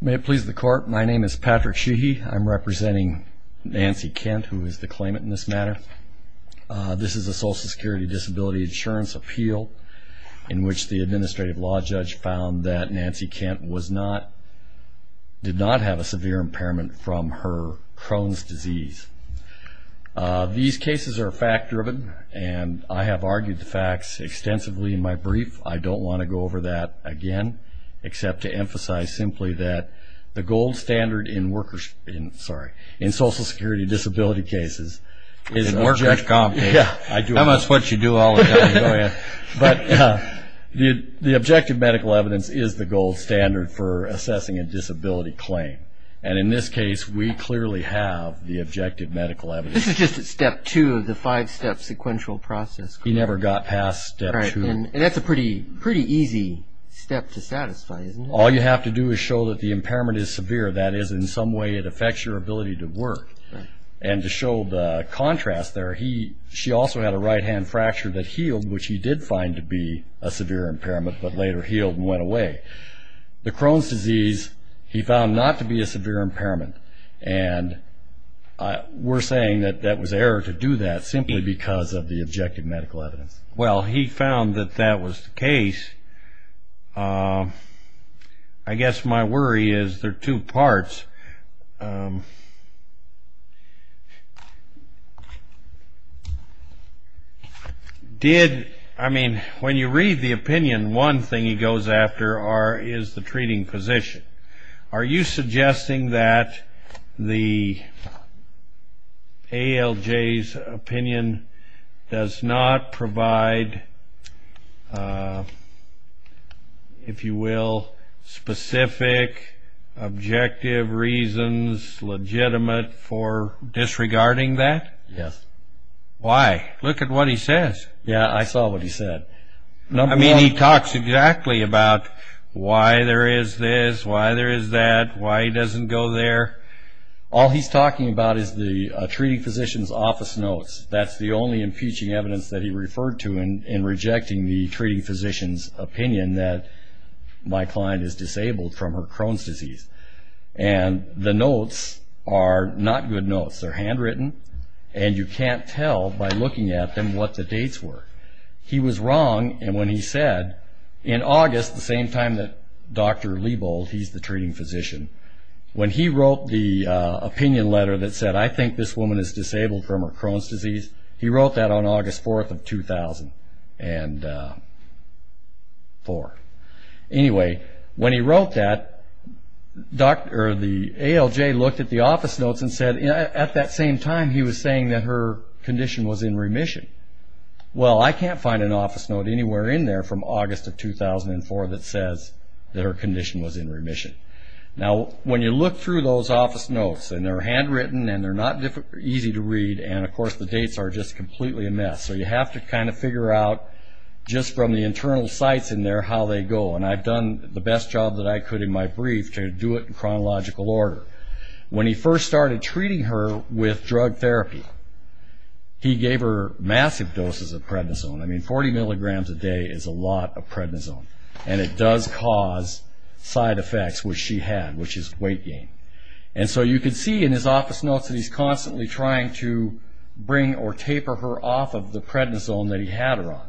May it please the court. My name is Patrick Sheehy. I'm representing Nancy Kent, who is the claimant in this matter. This is a Social Security Disability Insurance appeal in which the administrative law judge found that Nancy Kent was not, did not have a severe impairment from her Crohn's disease. These cases are fact driven and I have argued the facts extensively in my brief. I don't want to go over that again, except to emphasize simply that the gold standard in workers, sorry, in Social Security Disability cases is... It's a work bench comp case. Yeah, I do. That's what you do all the time. But the objective medical evidence is the gold standard for assessing a disability claim. And in this case, we clearly have the objective medical evidence. This is just at step two of the five step sequential process. He never got past step two. And that's a pretty easy step to satisfy, isn't it? All you have to do is show that the impairment is severe. That is, in some way it affects your ability to work. And to show the contrast there, she also had a right hand fracture that healed, which he did find to be a severe impairment, but later healed and went away. The Crohn's disease, he found not to be a severe impairment. And we're saying that that was error to do that simply because of the objective medical evidence. Well, he found that that was the case. I guess my worry is there are two parts. Did, I mean, when you read the opinion, one thing he goes after is the treating physician. Are you suggesting that the ALJ's opinion does not provide, if you will, specific objective reasons legitimate for disregarding that? Yes. Why? Look at what he says. Yeah, I saw what he said. I mean, he talks exactly about why there is this, why there is that, why he doesn't go there. All he's talking about is the treating physician's office notes. That's the only impeaching evidence that he referred to in rejecting the treating physician's opinion that my client is disabled from her Crohn's disease. And the notes are not good notes. They're handwritten, and you can't tell by looking at them what the dates were. He was wrong when he said, in August, the same time that Dr. Lebold, he's the treating physician, when he wrote the opinion letter that said, I think this woman is disabled from her Crohn's disease, he wrote that on August 4th of 2004. Anyway, when he wrote that, the ALJ looked at the office notes and said, at that same time he was saying that her condition was in remission. Well, I can't find an office note anywhere in there from August of 2004 that says that her condition was in remission. Now, when you look through those office notes, and they're handwritten, and they're not easy to read, and, of course, the dates are just completely a mess. So you have to kind of figure out, just from the internal sites in there, how they go. And I've done the best job that I could in my brief to do it in chronological order. When he first started treating her with drug therapy, he gave her massive doses of prednisone. I mean, 40 milligrams a day is a lot of prednisone. And it does cause side effects, which she had, which is weight gain. And so you can see in his office notes that he's constantly trying to bring or taper her off of the prednisone that he had her on.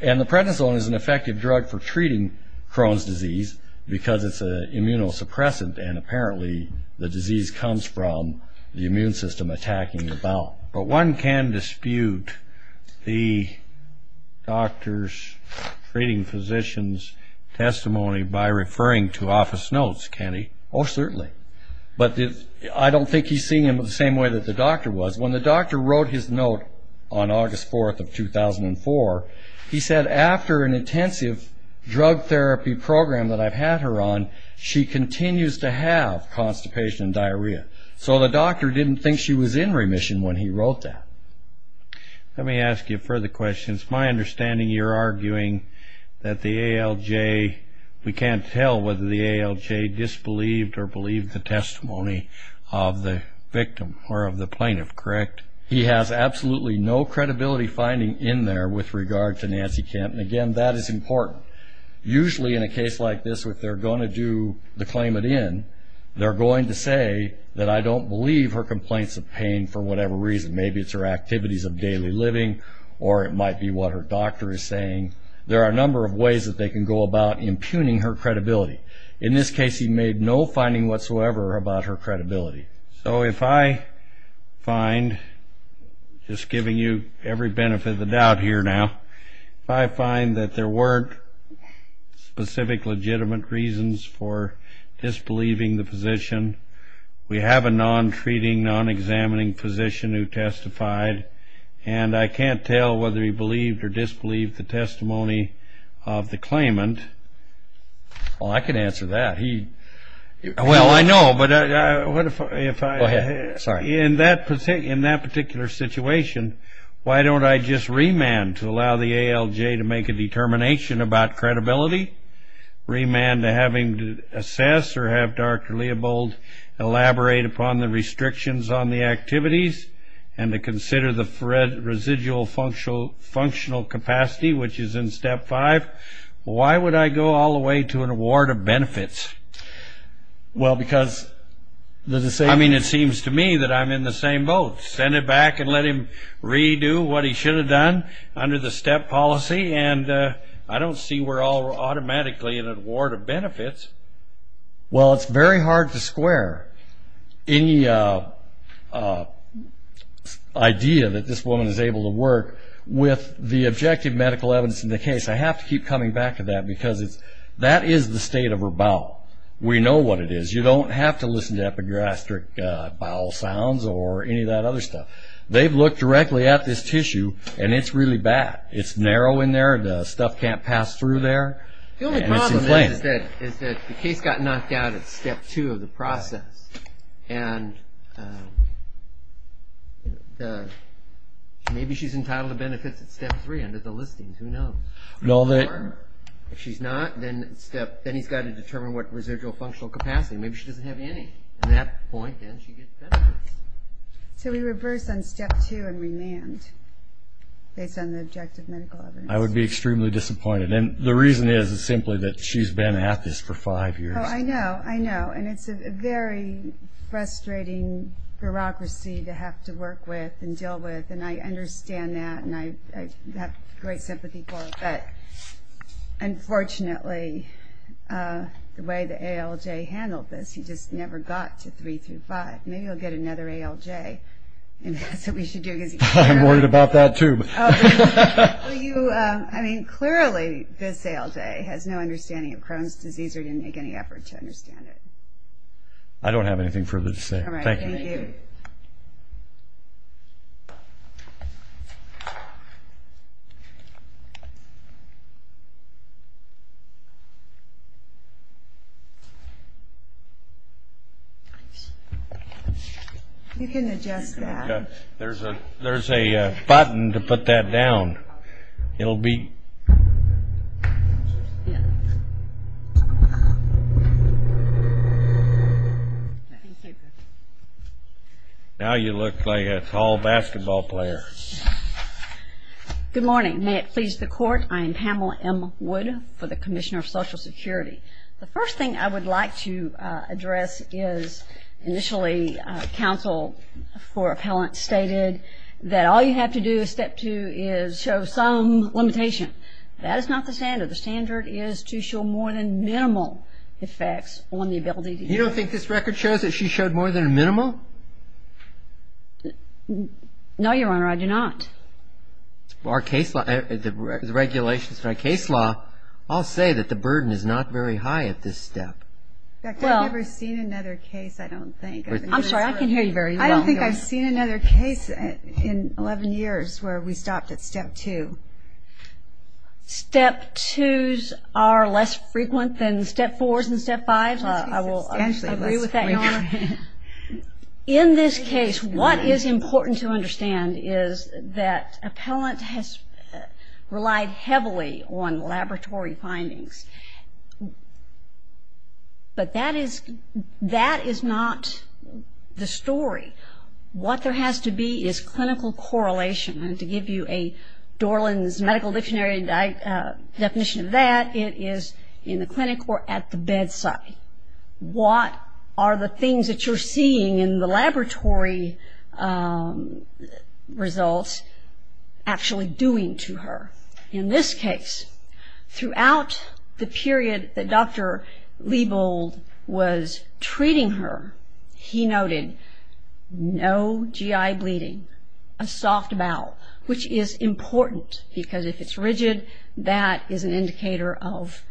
And the prednisone is an effective drug for treating Crohn's disease because it's an immunosuppressant, and apparently the disease comes from the immune system attacking the bowel. But one can dispute the doctor's treating physician's testimony by referring to office notes, can he? Oh, certainly. But I don't think he's seeing them the same way that the doctor was. When the doctor wrote his note on August 4th of 2004, he said, after an intensive drug therapy program that I've had her on, she continues to have constipation and diarrhea. So the doctor didn't think she was in remission when he wrote that. Let me ask you further questions. My understanding, you're arguing that the ALJ, we can't tell whether the ALJ disbelieved or believed the testimony of the victim or of the plaintiff, correct? He has absolutely no credibility finding in there with regard to Nancy Kemp. And, again, that is important. Usually in a case like this, if they're going to do the claimant in, they're going to say that I don't believe her complaints of pain for whatever reason. Maybe it's her activities of daily living, or it might be what her doctor is saying. There are a number of ways that they can go about impugning her credibility. In this case, he made no finding whatsoever about her credibility. So if I find, just giving you every benefit of the doubt here now, if I find that there weren't specific legitimate reasons for disbelieving the physician, we have a non-treating, non-examining physician who testified, and I can't tell whether he believed or disbelieved the testimony of the claimant. Well, I can answer that. Well, I know, but in that particular situation, why don't I just remand to allow the ALJ to make a determination about credibility, remand to have him assess or have Dr. Leobold elaborate upon the restrictions on the activities, and to consider the residual functional capacity, which is in step five. Why would I go all the way to an award of benefits? Well, because it seems to me that I'm in the same boat. Send it back and let him redo what he should have done under the step policy, and I don't see we're all automatically in an award of benefits. Well, it's very hard to square. Any idea that this woman is able to work with the objective medical evidence in the case, I have to keep coming back to that because that is the state of her bowel. We know what it is. You don't have to listen to epigastric bowel sounds or any of that other stuff. They've looked directly at this tissue, and it's really bad. It's narrow in there. The stuff can't pass through there. The only problem is that the case got knocked out at step two of the process, and maybe she's entitled to benefits at step three under the listings. Who knows? If she's not, then he's got to determine what residual functional capacity. Maybe she doesn't have any. At that point, then she gets benefits. So we reverse on step two and remand based on the objective medical evidence. I would be extremely disappointed. The reason is simply that she's been at this for five years. I know. I know, and it's a very frustrating bureaucracy to have to work with and deal with, and I understand that, and I have great sympathy for it. But unfortunately, the way the ALJ handled this, he just never got to three through five. Maybe he'll get another ALJ, and that's what we should do. I'm worried about that, too. I mean, clearly this ALJ has no understanding of Crohn's disease or didn't make any effort to understand it. I don't have anything further to say. All right, thank you. You can adjust that. There's a button to put that down. Now you look like a tall basketball player. Good morning. May it please the Court, I am Pamela M. Wood for the Commissioner of Social Security. The first thing I would like to address is initially counsel for appellant stated that all you have to do is step two is show some limitation. That is not the standard. The standard is to show more than minimal effects on the ability to heal. You don't think this record shows that she showed more than a minimal? No, Your Honor, I do not. Our case law, the regulations for our case law all say that the burden is not very high at this step. I've never seen another case, I don't think. I'm sorry, I can hear you very well. I don't think I've seen another case in 11 years where we stopped at step two. Step twos are less frequent than step fours and step fives. I will agree with that, Your Honor. In this case, what is important to understand is that appellant has relied heavily on laboratory findings. But that is not the story. What there has to be is clinical correlation. And to give you a Dorland's medical dictionary definition of that, it is in the clinic or at the bedside. What are the things that you're seeing in the laboratory results actually doing to her? In this case, throughout the period that Dr. Liebold was treating her, he noted no GI bleeding, a soft bowel, which is important because if it's rigid, that is an indicator of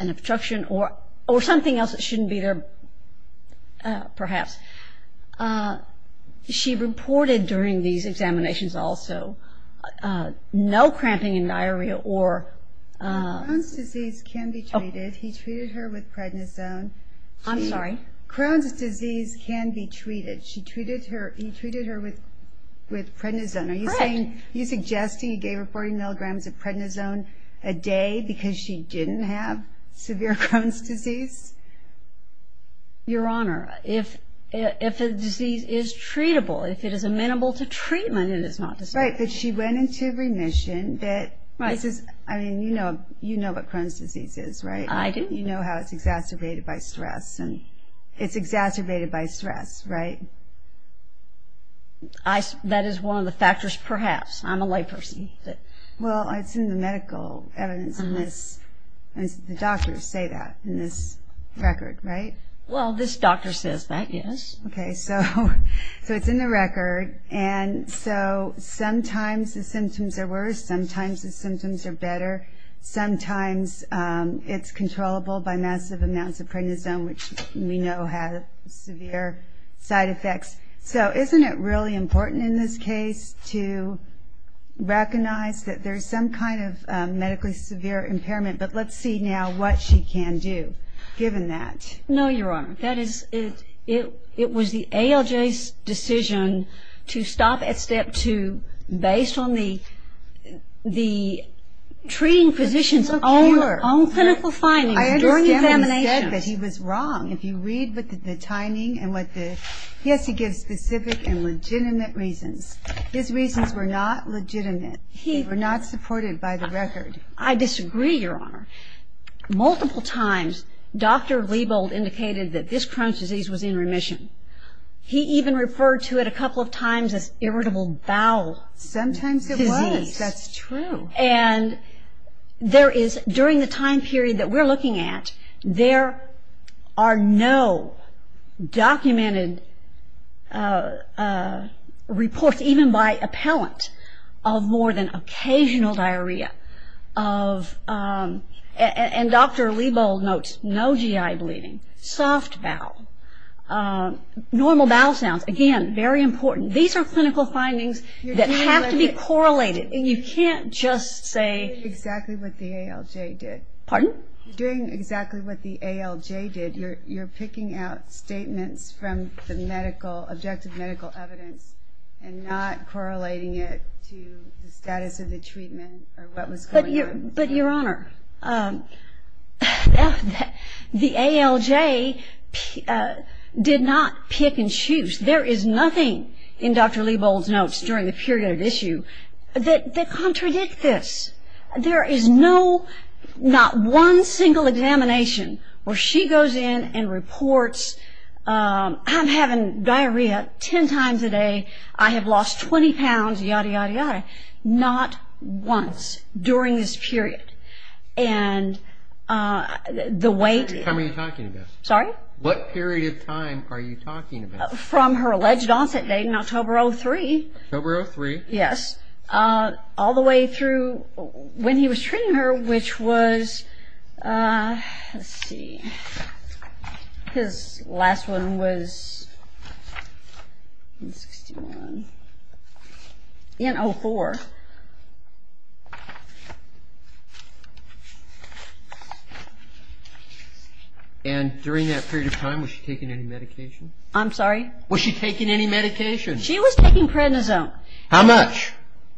an obstruction or something else that shouldn't be there perhaps. She reported during these examinations also no cramping in diarrhea or- Crohn's disease can be treated. He treated her with prednisone. I'm sorry? Crohn's disease can be treated. He treated her with prednisone. Correct. Are you suggesting he gave her 40 milligrams of prednisone a day because she didn't have severe Crohn's disease? Your Honor, if a disease is treatable, if it is amenable to treatment, it is not disease. Right, but she went into remission that this is- Right. I mean, you know what Crohn's disease is, right? I do. You know how it's exacerbated by stress, and it's exacerbated by stress, right? That is one of the factors perhaps. I'm a layperson. Well, it's in the medical evidence in this. The doctors say that in this record, right? Well, this doctor says that, yes. Okay, so it's in the record, and so sometimes the symptoms are worse. Sometimes the symptoms are better. Sometimes it's controllable by massive amounts of prednisone, which we know have severe side effects. So isn't it really important in this case to recognize that there's some kind of medically severe impairment? But let's see now what she can do, given that. No, Your Honor. It was the ALJ's decision to stop at step two based on the treating physician's own clinical findings during examination. I understand what he said, that he was wrong. If you read the timing and what the- yes, he gives specific and legitimate reasons. His reasons were not legitimate. They were not supported by the record. I disagree, Your Honor. Multiple times, Dr. Liebold indicated that this Crohn's disease was in remission. He even referred to it a couple of times as irritable bowel disease. Sometimes it was. That's true. And there is, during the time period that we're looking at, there are no documented reports, even by appellant, of more than occasional diarrhea. And Dr. Liebold notes no GI bleeding. Soft bowel. Normal bowel sounds. Again, very important. These are clinical findings that have to be correlated. And you can't just say- You're doing exactly what the ALJ did. Pardon? You're doing exactly what the ALJ did. You're picking out statements from the medical, objective medical evidence, and not correlating it to the status of the treatment or what was going on. But, Your Honor, the ALJ did not pick and choose. There is nothing in Dr. Liebold's notes during the period of issue that contradict this. There is not one single examination where she goes in and reports, I'm having diarrhea ten times a day, I have lost 20 pounds, yada, yada, yada. Not once during this period. And the weight- How many are you talking about? Sorry? What period of time are you talking about? From her alleged onset date in October of 2003. October of 2003. Yes. All the way through when he was treating her, which was- Let's see. His last one was in 61. In 04. And during that period of time, was she taking any medication? I'm sorry? Was she taking any medication? She was taking prednisone. How much?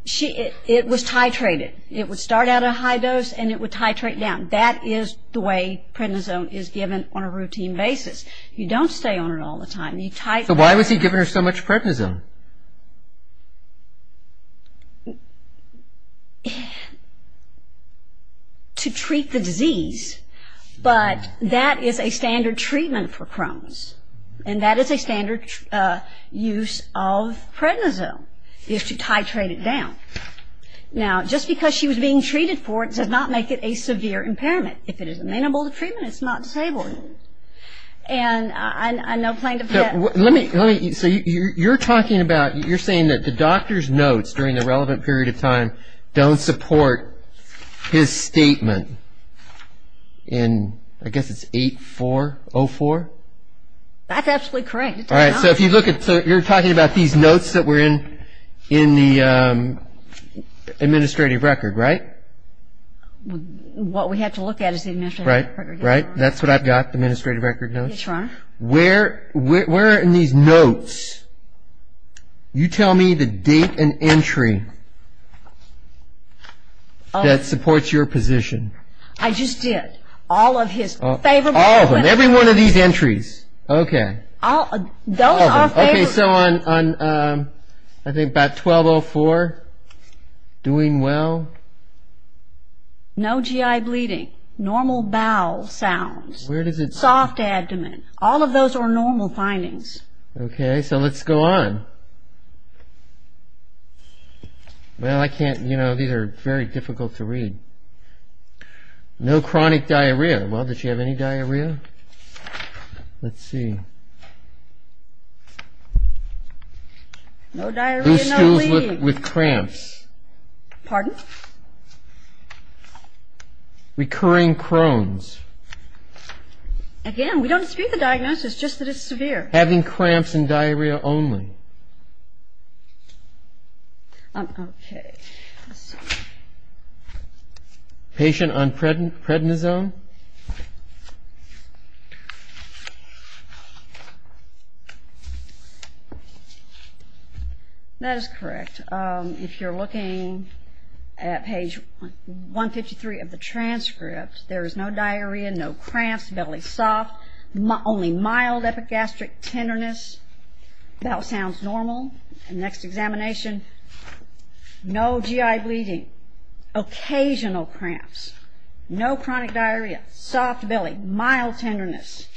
It was titrated. It would start at a high dose and it would titrate down. That is the way prednisone is given on a routine basis. You don't stay on it all the time. So why was he giving her so much prednisone? To treat the disease. But that is a standard treatment for Crohn's. And that is a standard use of prednisone, is to titrate it down. Now, just because she was being treated for it does not make it a severe impairment. If it is amenable to treatment, it's not disabled. And I'm no plaintiff yet. Let me- So you're talking about- You're saying that the doctor's notes during the relevant period of time don't support his statement in- That's absolutely correct. All right, so if you look at- So you're talking about these notes that were in the administrative record, right? What we have to look at is the administrative record. Right, right. That's what I've got, the administrative record notes. Yes, Your Honor. Where in these notes, you tell me the date and entry that supports your position. I just did. All of his favorable- All of them. Every one of these entries. Okay. Those are favorable- All of them. Okay, so on, I think, about 1204, doing well. No GI bleeding. Normal bowel sounds. Where does it- Soft abdomen. All of those are normal findings. Okay, so let's go on. Well, I can't- You know, these are very difficult to read. No chronic diarrhea. Diarrhea. Well, does she have any diarrhea? Let's see. No diarrhea, no bleeding. Loose stools with cramps. Pardon? Recurring Crohn's. Again, we don't dispute the diagnosis, just that it's severe. Having cramps and diarrhea only. Okay. Okay. Patient on prednisone. That is correct. If you're looking at page 153 of the transcript, there is no diarrhea, no cramps, belly soft. Only mild epigastric tenderness. Bowel sounds normal. Next examination. No GI bleeding. Occasional cramps. No chronic diarrhea. Soft belly. Mild tenderness.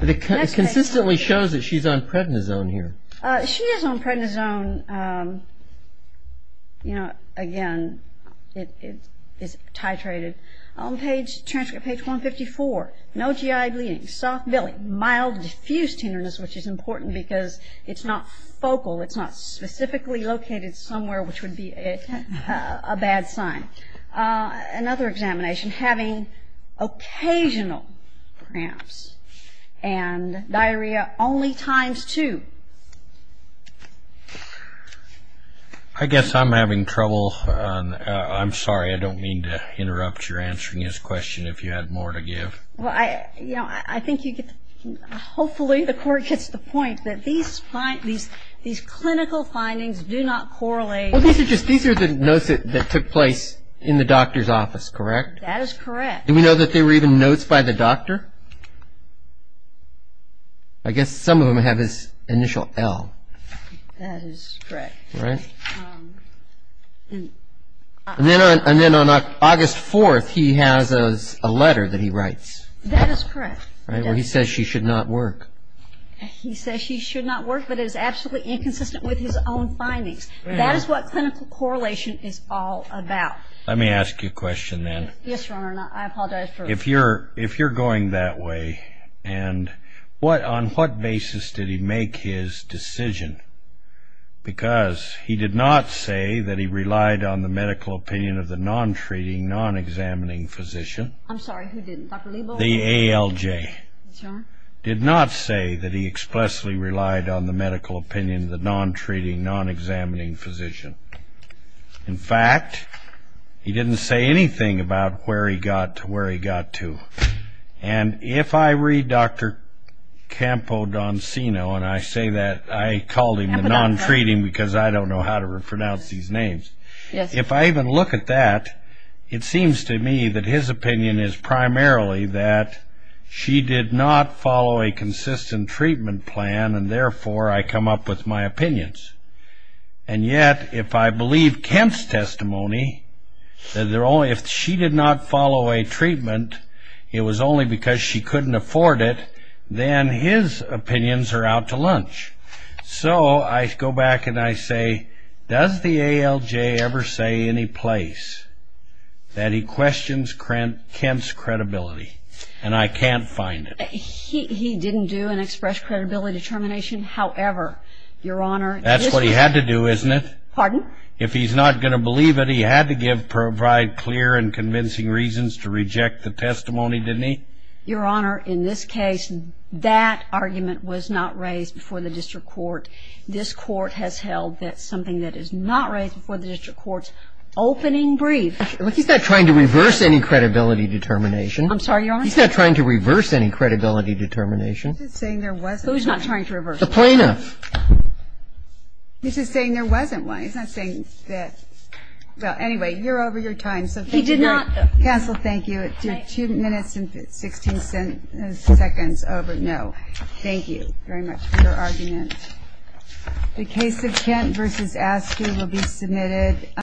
It consistently shows that she's on prednisone here. She is on prednisone. Again, it is titrated. On page- transcript page 154. No GI bleeding. Soft belly. Mild diffused tenderness, which is important because it's not focal. It's not specifically located somewhere, which would be a bad sign. Another examination. Having occasional cramps and diarrhea only times two. I guess I'm having trouble. I'm sorry. I don't mean to interrupt your answering his question if you had more to give. I think you get the point. Hopefully the court gets the point that these clinical findings do not correlate. These are the notes that took place in the doctor's office, correct? That is correct. Do we know that they were even notes by the doctor? I guess some of them have his initial L. That is correct. And then on August 4th, he has a letter that he writes. That is correct. Where he says she should not work. He says she should not work, but it is absolutely inconsistent with his own findings. That is what clinical correlation is all about. Let me ask you a question then. Yes, Your Honor. I apologize. If you're going that way, on what basis did he make his decision? Because he did not say that he relied on the medical opinion of the non-treating, non-examining physician. I'm sorry, who didn't? Dr. Liebo? The ALJ. Yes, Your Honor. Did not say that he expressly relied on the medical opinion of the non-treating, non-examining physician. In fact, he didn't say anything about where he got to. And if I read Dr. Campodoncino, and I say that I called him the non-treating because I don't know how to pronounce these names. If I even look at that, it seems to me that his opinion is primarily that she did not follow a consistent treatment plan, and therefore I come up with my opinions. And yet, if I believe Kemp's testimony, that if she did not follow a treatment, it was only because she couldn't afford it, then his opinions are out to lunch. So I go back and I say, does the ALJ ever say any place that he questions Kemp's credibility? And I can't find it. He didn't do an express credibility determination. However, Your Honor. That's what he had to do, isn't it? Pardon? If he's not going to believe it, he had to provide clear and convincing reasons to reject the testimony, didn't he? Your Honor, in this case, that argument was not raised before the district court. This court has held that something that is not raised before the district court's opening brief. He's not trying to reverse any credibility determination. I'm sorry, Your Honor? He's not trying to reverse any credibility determination. He's just saying there wasn't. Who's not trying to reverse it? The plaintiff. He's just saying there wasn't one. He's not saying that. Well, anyway, you're over your time. He did not. Counsel, thank you. Two minutes and 16 seconds over. No. Thank you very much for your argument. The case of Kemp v. Askew will be submitted.